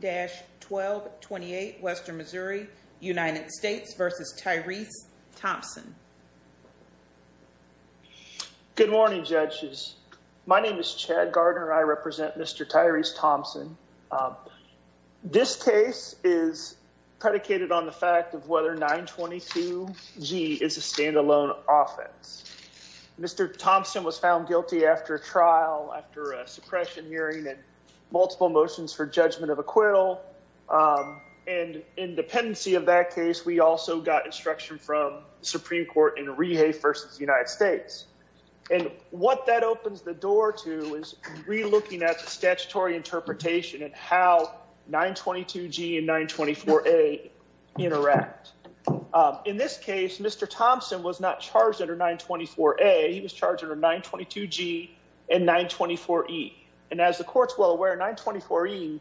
Good morning judges. My name is Chad Gardner. I represent Mr. Tyreese Thompson. This case is predicated on the fact of whether 922g is a standalone offense. Mr. Thompson was charged under 924a and 924e. In this case, Mr. Thompson was not charged under 924a. He was charged under 922g and 924e. And as the court's well aware, 924e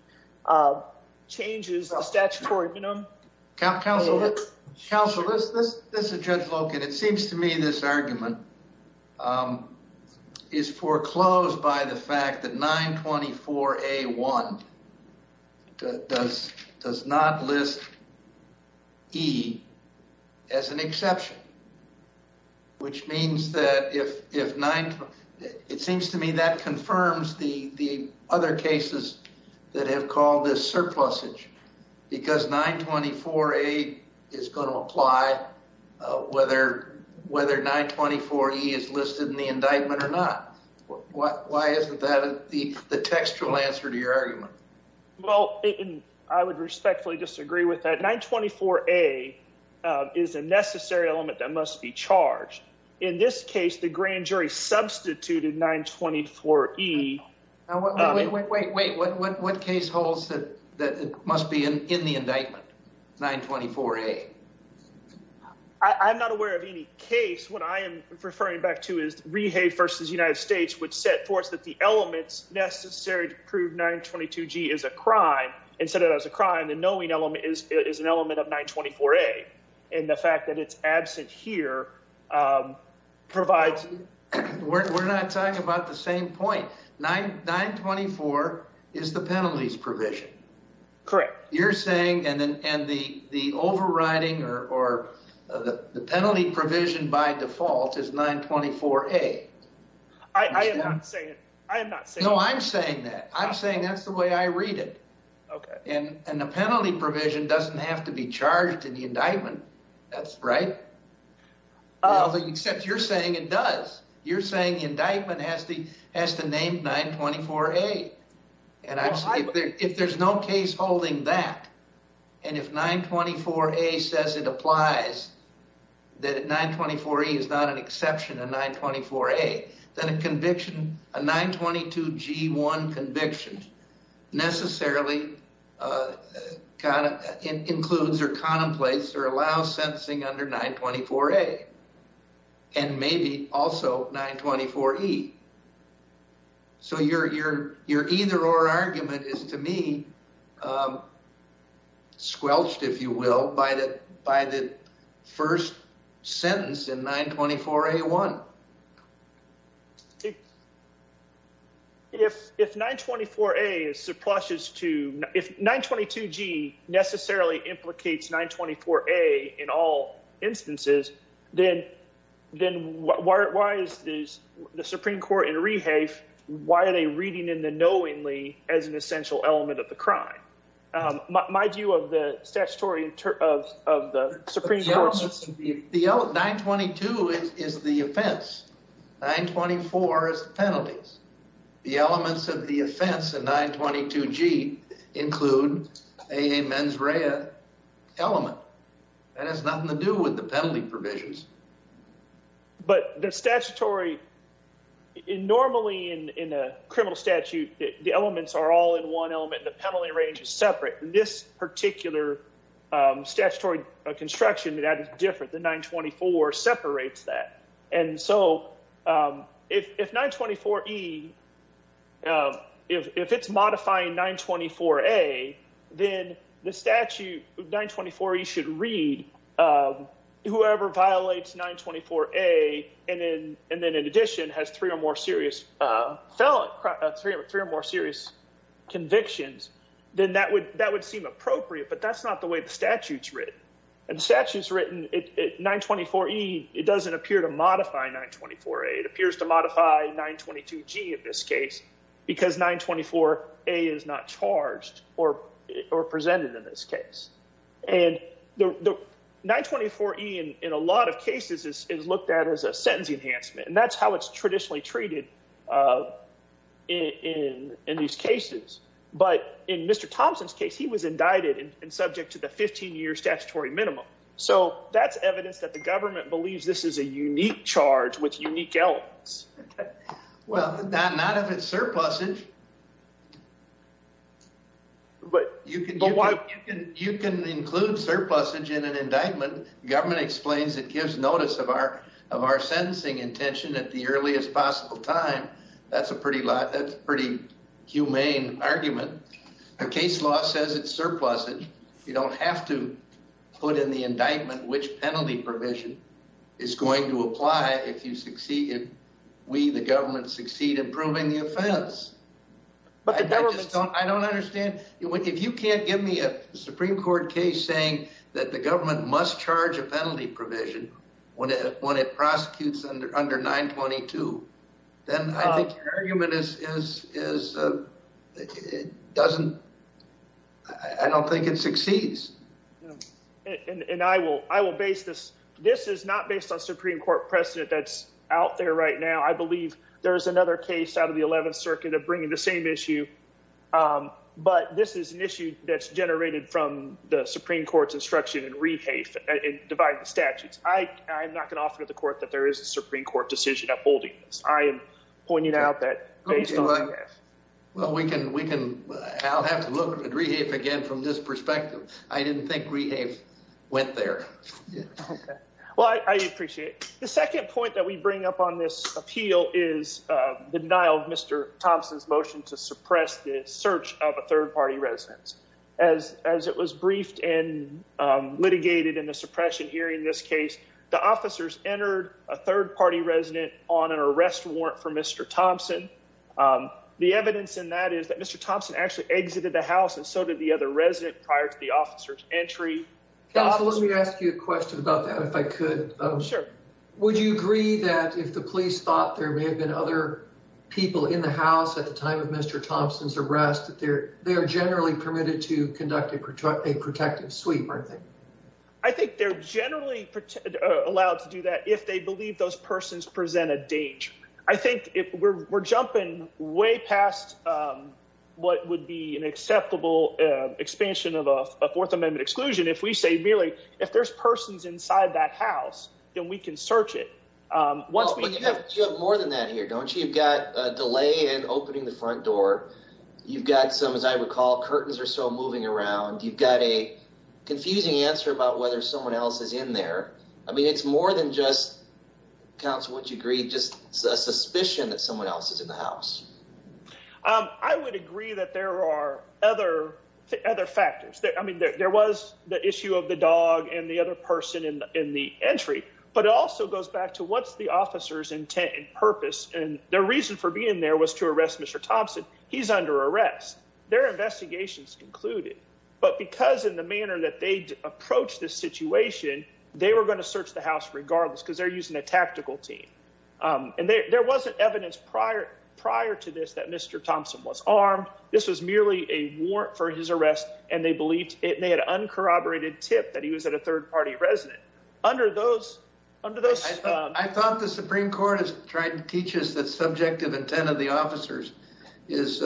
changes the statutory minimum. Counsel, this is Judge Loken. It seems to me this argument is foreclosed by the fact that 924a1 does not list e as an exception, which means that if 924a is listed in the indictment or not. Why isn't that the textual answer to your argument? Well, I would respectfully disagree with that. 924a is a necessary element that must be charged. In this case, the grand jury substituted 924e. Wait, what case holds that it must be in the indictment, 924a? I'm not aware of any case. What I am referring back to is a crime. The knowing element is an element of 924a. And the fact that it's absent here provides... We're not talking about the same point. 924 is the penalties provision. Correct. You're saying and the overriding or the penalty provision by default is 924a. I am not saying that. No, I'm saying that. I'm saying that's the way I read it. And the penalty provision doesn't have to be charged in the indictment. That's right. Except you're saying it does. You're saying the indictment has to name 924a. And if there's no case holding that, and if 924a says it applies, that 924e is not an exception to 924a, then a conviction, a 922g1 conviction necessarily includes or contemplates or allows sentencing under 924a and maybe also 924e. So your either or argument is to me squelched, if you will, by the first sentence in 924a1. If 924a is subpluses to... If 922g necessarily implicates 924a in all instances, then the Supreme Court in Rehafe, why are they reading in the knowingly as an essential element of the crime? My view of the statutory of the Supreme Court... But the elements of the... 922 is the offense. 924 is the penalties. The elements of the offense in 922g include a mens rea element. That has nothing to do with the penalty provisions. But the statutory... Normally in a criminal statute, the elements are all in one element. The penalty range is separate. This particular statutory construction that is different than 924 separates that. And so if 924e... If it's modifying 924a, then the statute... 924e should read whoever violates 924a and then in addition has three or more serious felon... Three or more serious convictions, then that would seem appropriate. But that's not the way the statute's written. And the statute's written... 924e, it doesn't appear to modify 924a. It appears to modify 922g in this case because 924a is not charged or presented in this case. And 924e in a lot of cases is looked at as a sentence enhancement. And that's how it's traditionally treated in these cases. But in Mr. Thompson's case, he was indicted and subject to the 15-year statutory minimum. So that's evidence that the government believes this is a unique charge with unique elements. Well, not if it's surplusage. But you can include surplusage in an indictment. Government explains it gives notice of our sentencing intention at the earliest possible time. That's a pretty humane argument. A case law says it's surplusage. You don't have to put in the indictment which penalty provision is going to apply if you succeed... If we, the government, succeed in proving the offense. I don't understand... If you can't give me a Supreme Court case saying that the government must charge a penalty provision when it prosecutes under 922, then I think your argument is... I don't think it succeeds. And I will base this... This is not based on Supreme Court precedent that's out there right now. I believe there is another case out of the 11th Circuit of bringing the same issue. But this is an issue that's generated from the Supreme Court's instruction in rehafe and dividing the statutes. I'm not going to offer to the court that there is a Supreme Court decision upholding this. I am pointing out that based on... Well, we can... I'll have to look at rehafe again from this perspective. I didn't think rehafe went there. Well, I appreciate it. The second point we bring up on this appeal is the denial of Mr. Thompson's motion to suppress the search of a third-party residence. As it was briefed and litigated in the suppression hearing in this case, the officers entered a third-party resident on an arrest warrant for Mr. Thompson. The evidence in that is that Mr. Thompson actually exited the house and so did the other resident prior to the officer's entry. Counsel, let me ask you a question about that if I could. Sure. Would you agree that if the police thought there may have been other people in the house at the time of Mr. Thompson's arrest, that they are generally permitted to conduct a protective sweep, aren't they? I think they're generally allowed to do that if they believe those persons present a danger. I think we're jumping way past what would be an acceptable expansion of a Fourth Amendment exclusion if we say merely if there's persons inside that house, then we can search it. You have more than that here, don't you? You've got a delay in opening the front door. You've got some, as I recall, curtains are still moving around. You've got a confusing answer about whether someone else is in there. I mean, it's more than just, Counsel, wouldn't you agree, just a suspicion that someone else is in the house? I would agree that there are other factors. I mean, there was the issue of the dog and the other person in the entry. But it also goes back to what's the officer's intent and purpose. And the reason for being there was to arrest Mr. Thompson. He's under arrest. Their investigations concluded. But because in the manner that they approached this situation, they were going to search the house regardless because they're using a tactical team. And there wasn't evidence prior to this that Mr. Thompson was armed. This was merely a warrant for his arrest. And they had an uncorroborated tip that he was at a third party resident. I thought the Supreme Court has tried to teach us that subjective intent of the officers is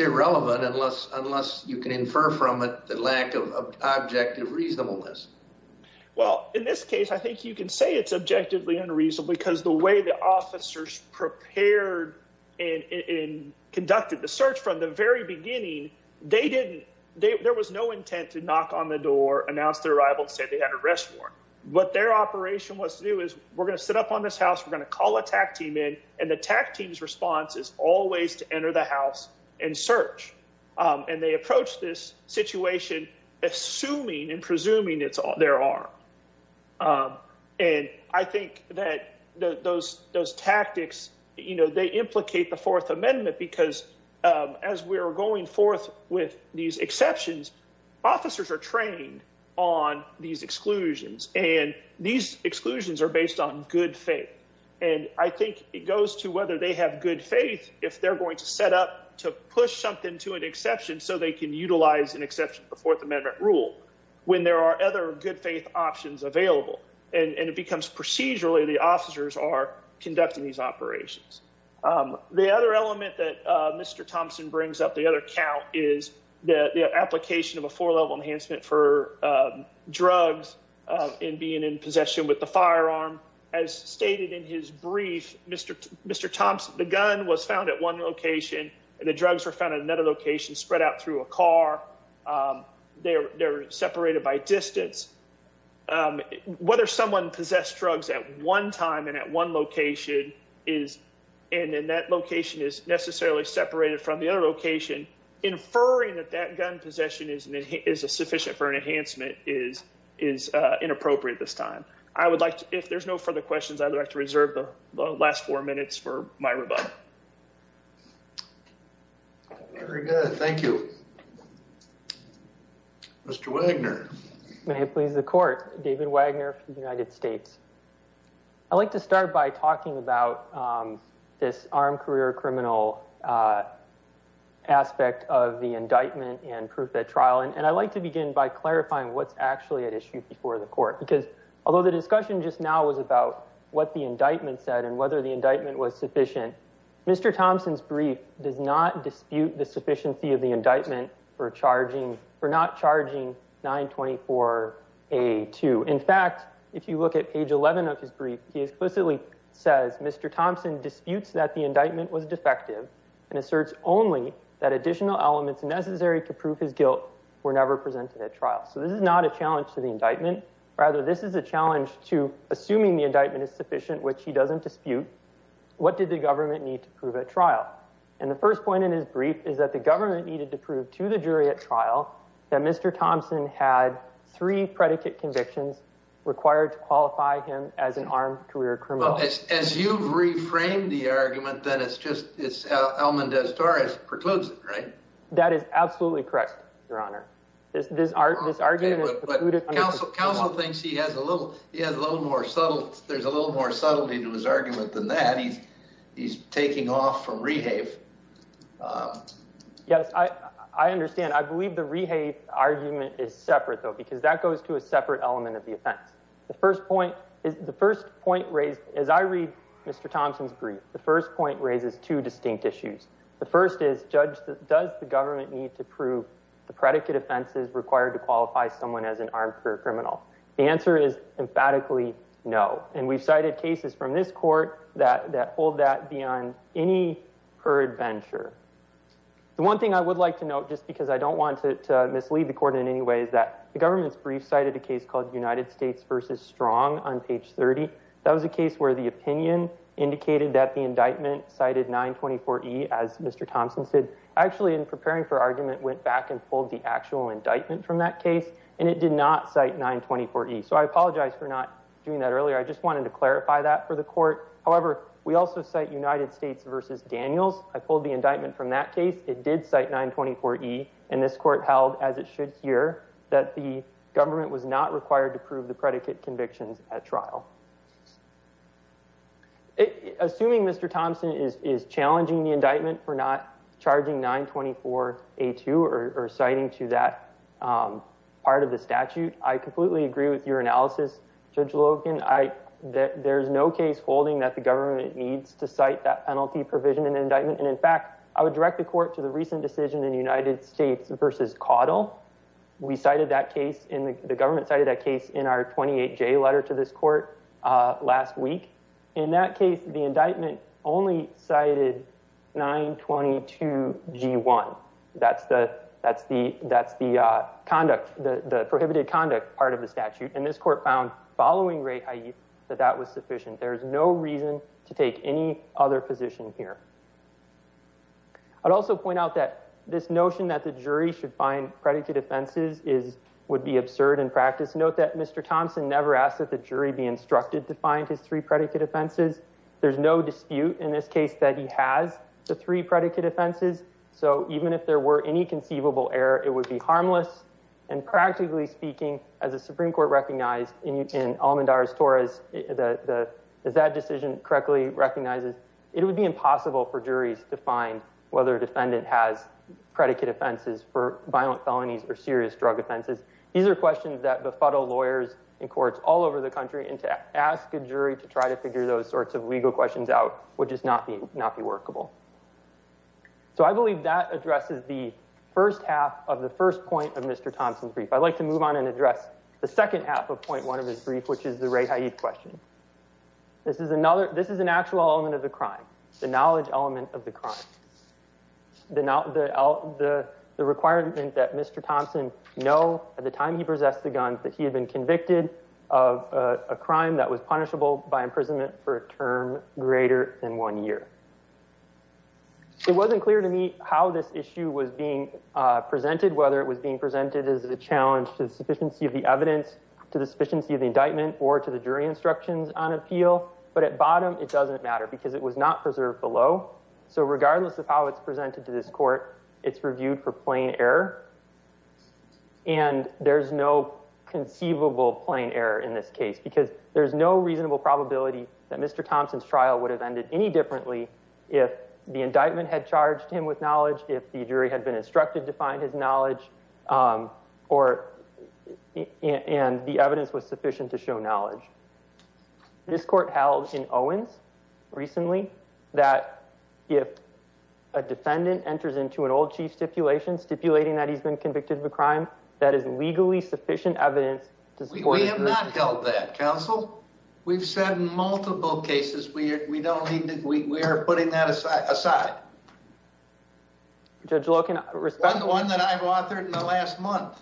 irrelevant unless you can infer from it the lack of objective reasonableness. Well, in this case, I think you can say it's and conducted the search from the very beginning. There was no intent to knock on the door, announce their arrival, and say they had a warrant. What their operation was to do is, we're going to sit up on this house. We're going to call a tactical team in. And the tactical team's response is always to enter the house and search. And they approached this situation assuming and presuming they're armed. And I think that those tactics, they implicate the Fourth Amendment because as we're going forth with these exceptions, officers are trained on these exclusions. And these exclusions are based on good faith. And I think it goes to whether they have good faith if they're going to set up to push something to an exception so they can utilize an exception to the Fourth Amendment rule when there are other good faith options available. And it becomes procedurally the officers are conducting these operations. The other element that Mr. Thompson brings up, the other count, is the application of a four-level enhancement for drugs and being in possession with the firearm. As stated in his brief, Mr. Thompson, the gun was found at one location and the drugs were found at another location, spread out through a car. They were separated by distance. Whether someone possessed drugs at one time and at one location is, and then that location is necessarily separated from the other location, inferring that that gun possession is sufficient for an enhancement is inappropriate this time. If there's no further questions, I would like to reserve the last four minutes for my rebuttal. Very good, thank you. Mr. Wagner. May it please the Court, David Wagner for the United States. I'd like to start by talking about this armed career criminal aspect of the indictment and proof at trial. And I'd like to begin by clarifying what's actually at issue before the Court because although the discussion just now was about what the indictment said and whether the indictment was sufficient, Mr. Thompson's brief does not dispute the sufficiency of the indictment for charging, for not charging 924A2. In fact, if you look at page 11 of his brief, he explicitly says Mr. Thompson disputes that the indictment was defective and asserts only that additional elements necessary to prove his guilt were never presented at trial. So this is not a challenge to the indictment. Rather, this is a challenge to assuming the indictment is sufficient, which he doesn't dispute, what did the government need to prove at trial? And the first point in his brief is that the government needed to prove to the jury at trial that Mr. Thompson had three predicate convictions required to qualify him as an armed career criminal. As you've reframed the argument, then it's just Elmendaz Torres precludes it, right? That is absolutely correct, Your Honor. But counsel thinks he has a little, he has a little more subtle, there's a little more subtlety to his argument than that. He's taking off from rehave. Yes, I understand. I believe the rehave argument is separate though because that goes to a separate element of the offense. The first point is, the first point raised as I read Mr. Thompson's brief, the first point raises two distinct issues. The first is, Judge, does the government need to prove the predicate offenses required to qualify someone as an armed career criminal? The answer is emphatically no. And we've cited cases from this court that hold that beyond any peradventure. The one thing I would like to note, just because I don't want to mislead the court in any way, is that the government's brief cited a case called United States v. Strong on page 30. That was a case where the opinion indicated that the indictment cited 924E, as Mr. Thompson said, actually in preparing for argument went back and pulled the actual indictment from that case, and it did not cite 924E. So I apologize for not doing that earlier. I just wanted to clarify that for the court. However, we also cite United States v. Daniels. I pulled the indictment from that case. It did cite 924E, and this court held, as it should here, that the government was not required to prove the predicate convictions at trial. Assuming Mr. Thompson is challenging the indictment for not charging 924A2 or citing to that part of the statute, I completely agree with your analysis, Judge Logan. There's no case holding that the government needs to cite that penalty provision in indictment. And in fact, I would direct the court to the recent decision in United States v. Caudill. We cited that case, and the government cited that case in our 28J letter to this court last week. In that case, the indictment only cited 922G1. That's the prohibited conduct part of the statute, and this court found, following Rae Hayes, that that was sufficient. There's no reason to take any other position here. I'd also point out that this notion that the jury should find predicate offenses would be absurd in practice. Note that Mr. Thompson never asked that the jury be instructed to find his three predicate offenses. There's no dispute in this case that he has the three predicate offenses. So even if there were any conceivable error, it would be harmless. And practically speaking, as the Supreme Court recognized in Almandar's Torahs, as that decision correctly recognizes, it would be impossible for juries to find whether a defendant has predicate offenses for violent felonies or serious drug offenses. These are questions that ask a jury to try to figure those sorts of legal questions out would just not be workable. So I believe that addresses the first half of the first point of Mr. Thompson's brief. I'd like to move on and address the second half of point one of his brief, which is the Rae Hayes question. This is an actual element of the crime, the knowledge element of the crime. The requirement that Mr. Thompson know at the time he possessed the gun that he had been convicted of a crime that was punishable by imprisonment for a term greater than one year. It wasn't clear to me how this issue was being presented, whether it was being presented as a challenge to the sufficiency of the evidence, to the sufficiency of the indictment or to the jury instructions on appeal. But at bottom, it doesn't matter because it was not preserved below. So regardless of how it's presented to this court, it's reviewed for plain error. And there's no conceivable plain error in this case because there's no reasonable probability that Mr. Thompson's trial would have ended any differently if the indictment had charged him with knowledge, if the jury had been instructed to find his knowledge or and the evidence was sufficient to show knowledge. This court held in Owens recently that if a defendant enters into an old chief stipulation stipulating that he's been convicted of a crime, that is legally sufficient evidence. We have not held that counsel. We've said multiple cases. We don't need to. We are putting that aside. Judge Loken, one that I've authored in the last month,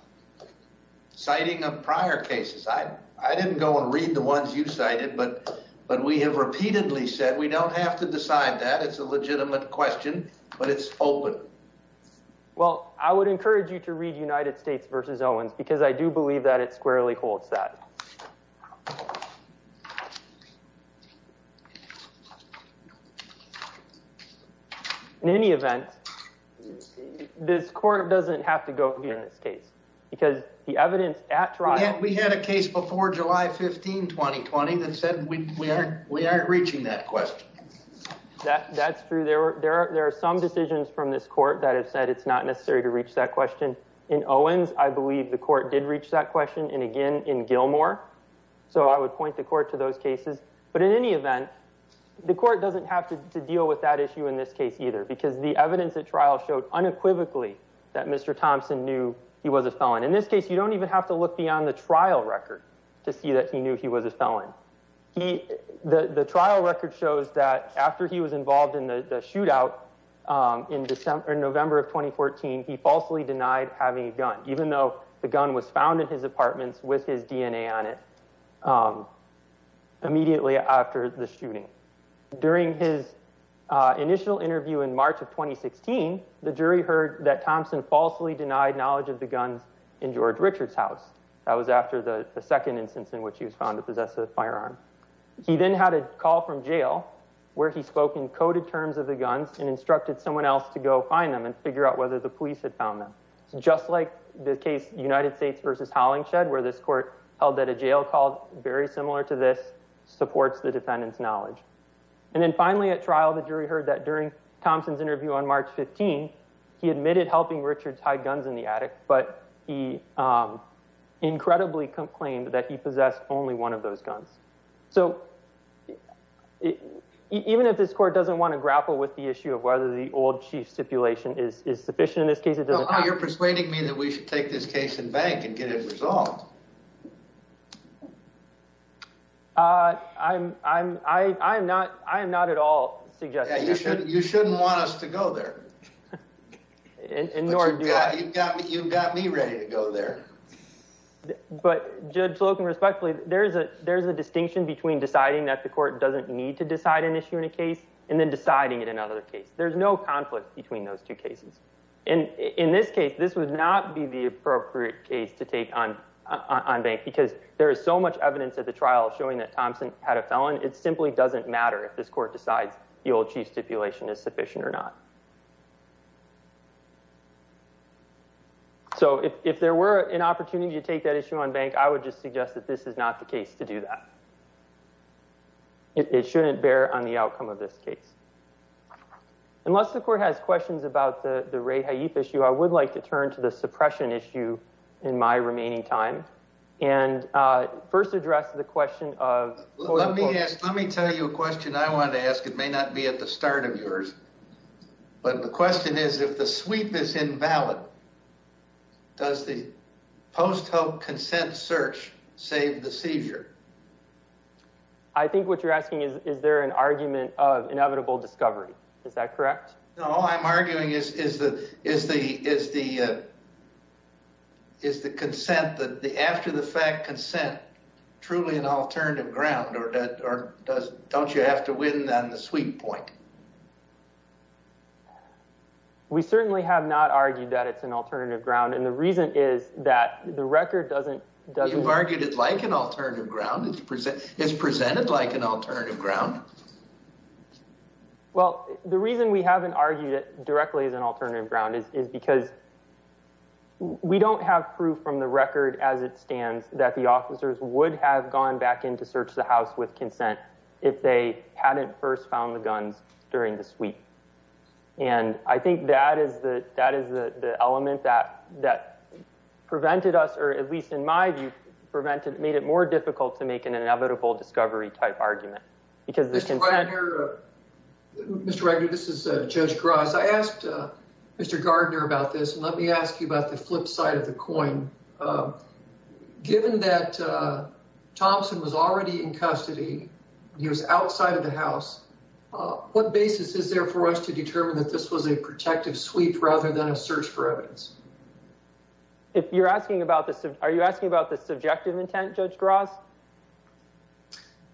citing a prior case. I didn't go and read the ones you cited, but we have repeatedly said we don't have to decide that. It's a legitimate question, but it's open. Well, I would encourage you to read United States versus Owens because I do believe that it squarely holds that. In any event, this court doesn't have to go here in this case because the evidence at trial. We had a case before July 15, 2020 that said we aren't reaching that question. That's true. There are some decisions from this court that have said it's not necessary to reach that question in Owens. I believe the court did reach that question and again in Gilmore. So I would point the court to those cases. But in any event, the court doesn't have to deal with that issue in this case either because the evidence at trial showed unequivocally that Mr. Thompson knew he was a felon. In this case, you don't even have to look beyond the trial record to see that he knew he was a felon. The trial record shows that after he was involved in the shootout in November of 2014, he falsely denied having a gun, even though the gun was found in his apartments with his DNA on it immediately after the shooting. During his initial interview in the trial, the jury heard that during Thompson's interview on March 15, he admitted helping Richards hide guns in the attic, but he incredibly complained that he possessed only one of those guns. So even if this court doesn't want to grapple with the issue of whether the old chief stipulation is sufficient in this case, it doesn't matter. You're persuading me that we should take this case in bank and get it resolved. I am not at all suggesting that. You shouldn't want us to go there. You've got me ready to go there. But Judge Slocum, respectfully, there's a distinction between deciding that the court doesn't need to decide an issue in a case and then deciding in another case. There's no conflict between those two cases. In this case, this would not be the appropriate case to take on bank because there is so much evidence at the trial showing that Thompson had a felon. It simply doesn't matter if this court decides the old chief stipulation is sufficient or not. So if there were an opportunity to take that issue on bank, I would just suggest that this is not the case to do that. It shouldn't bear on the outcome of this case. Unless the court has questions about the Ray Haif issue, I would like to turn to the suppression issue in my remaining time and first address the question of... Let me tell you a question I wanted to ask. It may not be at the start of yours, but the question is, if the sweep is invalid, does the post-hope consent search save the seizure? I think what you're asking is, is there an argument of inevitable after-the-fact consent truly an alternative ground, or don't you have to win on the sweep point? We certainly have not argued that it's an alternative ground, and the reason is that the record doesn't... You've argued it like an alternative ground. It's presented like an alternative ground. Well, the reason we haven't argued it directly as an alternative ground is because we don't have proof from the record as it stands that the officers would have gone back in to search the house with consent if they hadn't first found the guns during the sweep. And I think that is the element that prevented us, or at least in my view, prevented... Made it more difficult to make an inevitable discovery type argument. Mr. Wagner, this is Judge Gross. I asked Mr. Gardner about this, and let me ask you about the flip side of the coin. Given that Thompson was already in custody, he was outside of the house, what basis is there for us to determine that this was a protective sweep rather than a search for evidence? If you're asking about this, are you asking about the subjective intent, Judge Gross?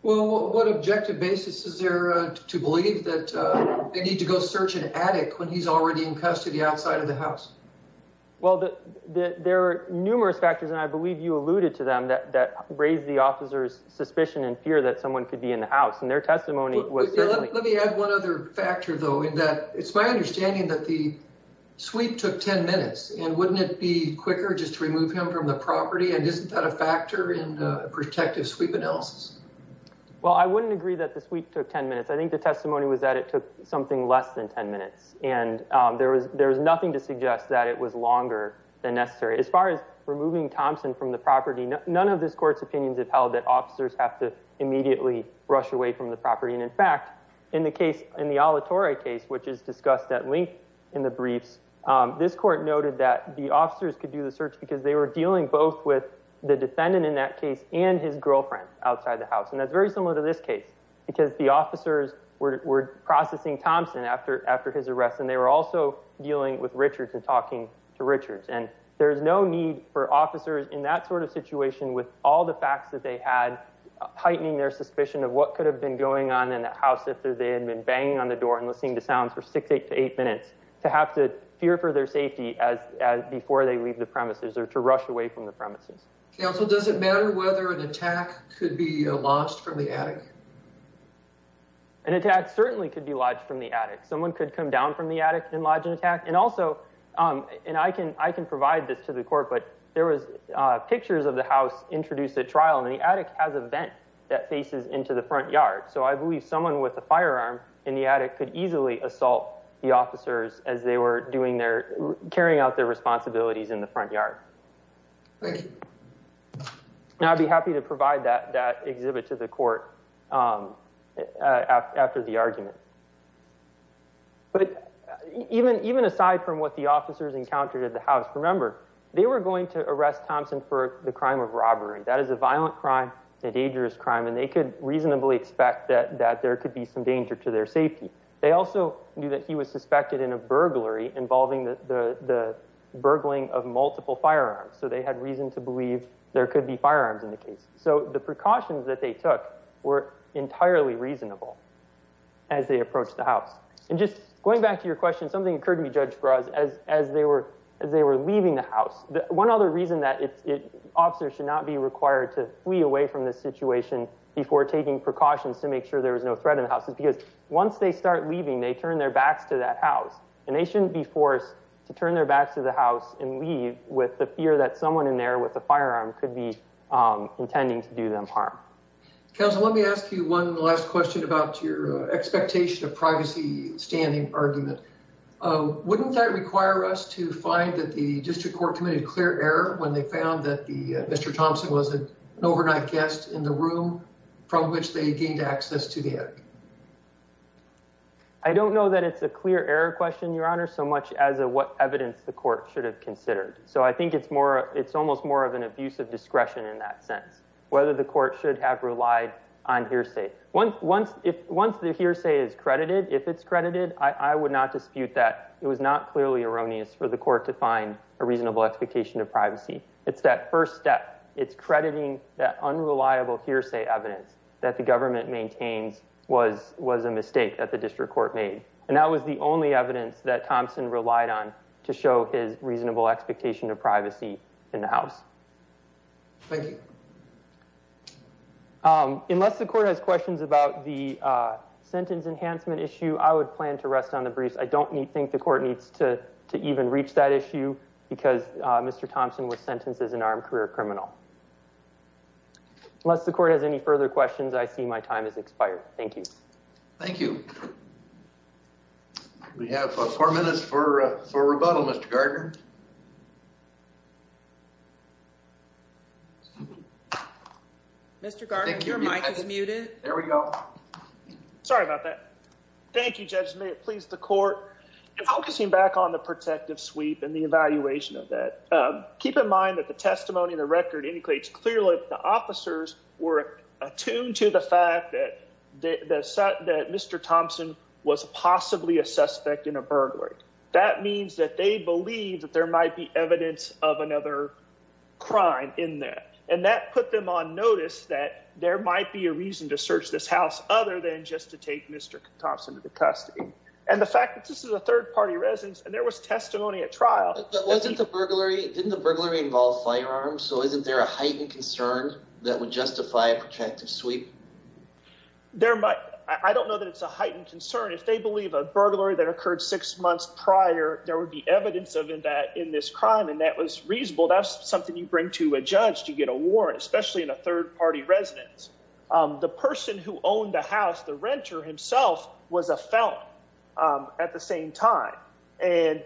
Well, what objective basis is there to believe that they need to go search an attic when he's already in custody outside of the house? Well, there are numerous factors, and I believe you alluded to them, that raise the officer's suspicion and fear that someone could be in the house, and their testimony was certainly... Let me add one other factor, though, in that it's my understanding that the sweep took 10 minutes, and wouldn't it be quicker just to remove him from the property? Well, I wouldn't agree that the sweep took 10 minutes. I think the testimony was that it took something less than 10 minutes, and there was nothing to suggest that it was longer than necessary. As far as removing Thompson from the property, none of this court's opinions have held that officers have to immediately rush away from the property, and in fact, in the case, in the Alatorre case, which is discussed at length in the briefs, this court noted that the officers could do the search because they were dealing both with the defendant in that outside the house, and that's very similar to this case, because the officers were processing Thompson after his arrest, and they were also dealing with Richards and talking to Richards, and there's no need for officers in that sort of situation with all the facts that they had, heightening their suspicion of what could have been going on in that house if they had been banging on the door and listening to sounds for six to eight minutes, to have to fear for their safety before they leave the premises or to rush away from the premises. Counsel, does it matter whether an attack could be lodged from the attic? An attack certainly could be lodged from the attic. Someone could come down from the attic and lodge an attack, and also, and I can provide this to the court, but there was pictures of the house introduced at trial, and the attic has a vent that faces into the front yard, so I believe someone with a firearm in the attic could easily assault the officers as they were doing their, carrying out their Now, I'd be happy to provide that exhibit to the court after the argument, but even aside from what the officers encountered at the house, remember, they were going to arrest Thompson for the crime of robbery. That is a violent crime, a dangerous crime, and they could reasonably expect that there could be some danger to their safety. They also knew that he was suspected in a burglary involving the burgling of multiple firearms, so they had reason to believe there could be firearms in the case, so the precautions that they took were entirely reasonable as they approached the house, and just going back to your question, something occurred to be judged for us as they were leaving the house. One other reason that officers should not be required to flee away from this situation before taking precautions to make sure there was no threat in the house is because once they start leaving, they turn their backs to that house, and they shouldn't be forced to turn their backs to the house and leave with the fear that someone in there with a firearm could be intending to do them harm. Counsel, let me ask you one last question about your expectation of privacy standing argument. Wouldn't that require us to find that the district court committed a clear error when they found that Mr. Thompson was an overnight guest in the room from which they gained access to the attic? I don't know that it's a clear error question, Your Honor, so much as what evidence the court should have considered, so I think it's almost more of an abuse of discretion in that sense, whether the court should have relied on hearsay. Once the hearsay is credited, if it's credited, I would not dispute that it was not clearly erroneous for the court to find a reasonable expectation of privacy. It's that first step. It's crediting that unreliable hearsay evidence that the government maintains was a mistake that the district court made, and that was the only evidence that Thompson relied on to show his reasonable expectation of privacy in the house. Thank you. Unless the court has questions about the sentence enhancement issue, I would plan to rest on the briefs. I don't think the court needs to even reach that issue because Mr. Thompson was sentenced as an armed career criminal. Unless the court has any further questions, I see my time has expired. Thank you. Thank you. We have four minutes for rebuttal, Mr. Gardner. Mr. Gardner, your mic is muted. There we go. Sorry about that. Thank you, judges. May it please the court, in focusing back on the protective sweep and the evaluation of that, keep in mind that the testimony in the record indicates clearly that the officers were attuned to the fact that Mr. Thompson was possibly a suspect in a burglary. That means that they believe that there might be evidence of another crime in that. And that put them on notice that there might be a reason to search this house other than just to take Mr. Thompson to the custody. And the fact that this is a third-party residence and there was testimony at trial. But wasn't the burglary, didn't the burglary involve firearms? So isn't there a heightened concern that would justify a protective sweep? I don't know that it's a heightened concern. If they believe a burglary that occurred six months prior, there would be evidence of that in this crime. And that was reasonable. That's something you bring to a judge to get a warrant, especially in a third-party residence. The person who owned the house, the renter himself, was a felon at the same time. And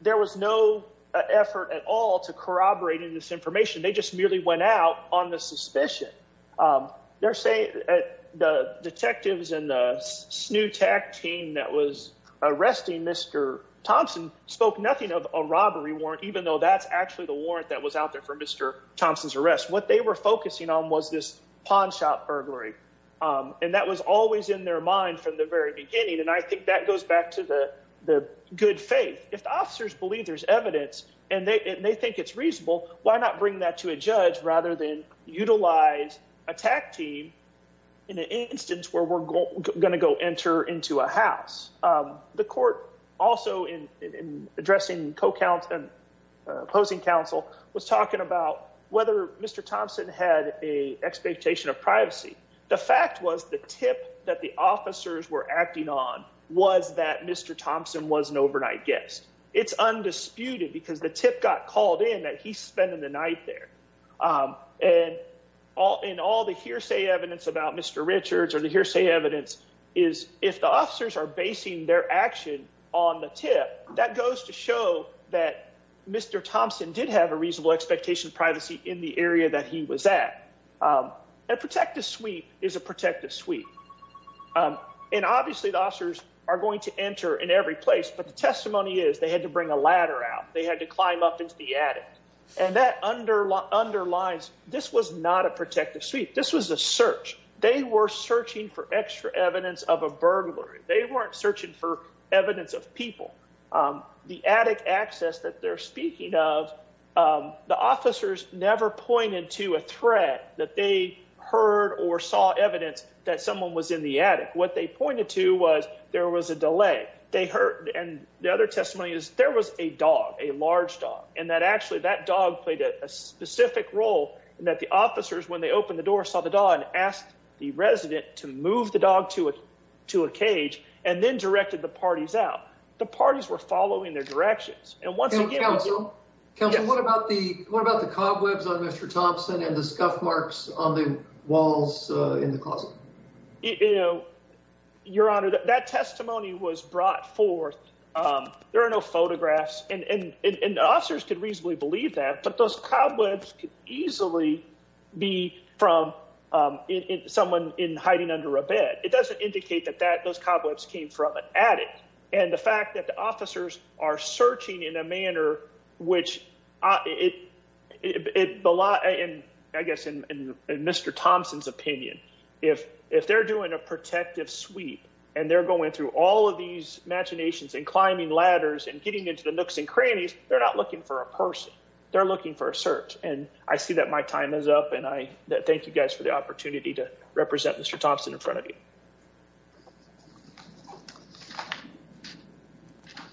there was no effort at all to corroborate in this case. And the fact that they were able to do that was reasonable because the evidence merely went out on the suspicion. They're saying that the detectives and the SNHU TAC team that was arresting Mr. Thompson spoke nothing of a robbery warrant, even though that's actually the warrant that was out there for Mr. Thompson's arrest. What they were focusing on was this pawn shop burglary. And that was always in their mind from the very beginning. And I think that goes back to the good faith. If the officers believe there's evidence and they think it's reasonable, why not bring that to a judge rather than utilize a TAC team in an instance where we're going to go enter into a house? The court also, in addressing co-counsel and opposing counsel, was talking about whether Mr. Thompson had an expectation of privacy. The fact was the tip that the officers were acting on was that Mr. Thompson was an overnight guest. It's undisputed because the tip got called in that he's spending the night there. And in all the hearsay evidence about Mr. Richards or the hearsay evidence is if the officers are basing their action on the tip, that goes to show that Mr. Thompson did have a reasonable expectation of privacy in the area that he was at. A protective sweep is a protective sweep. And obviously, the officers are going to enter in every place, but the testimony is they had to bring a ladder out. They had to climb up into the attic. And that underlines this was not a protective sweep. This was a search. They were searching for extra evidence of a burglary. They weren't searching for evidence of people. The attic access that they're speaking of, the officers never pointed to a threat that they heard or saw evidence that someone was in the attic. What they pointed to was there was a delay. And the other testimony is there was a dog, a large dog, and that actually that dog played a specific role in that the officers, when they opened the door, saw the dog and asked the resident to move the dog to a cage and then directed the parties out. The parties were following their directions. And once again, Counsel, what about the cobwebs on Mr. Thompson and the scuff marks on the walls in the closet? Your Honor, that testimony was brought forth. There are no photographs. And the officers could reasonably believe that, but those cobwebs could easily be from someone hiding under a bed. It doesn't indicate that those cobwebs came from an attic. And the fact that the officers are searching in a manner which, I guess in Mr. Thompson's opinion, if they're doing a protective sweep and they're going through all of these machinations and climbing ladders and getting into the nooks and crannies, they're not looking for a person. They're looking for a search. And I see that my time is up. And I thank you guys for the opportunity to represent Mr. Thompson in front of you.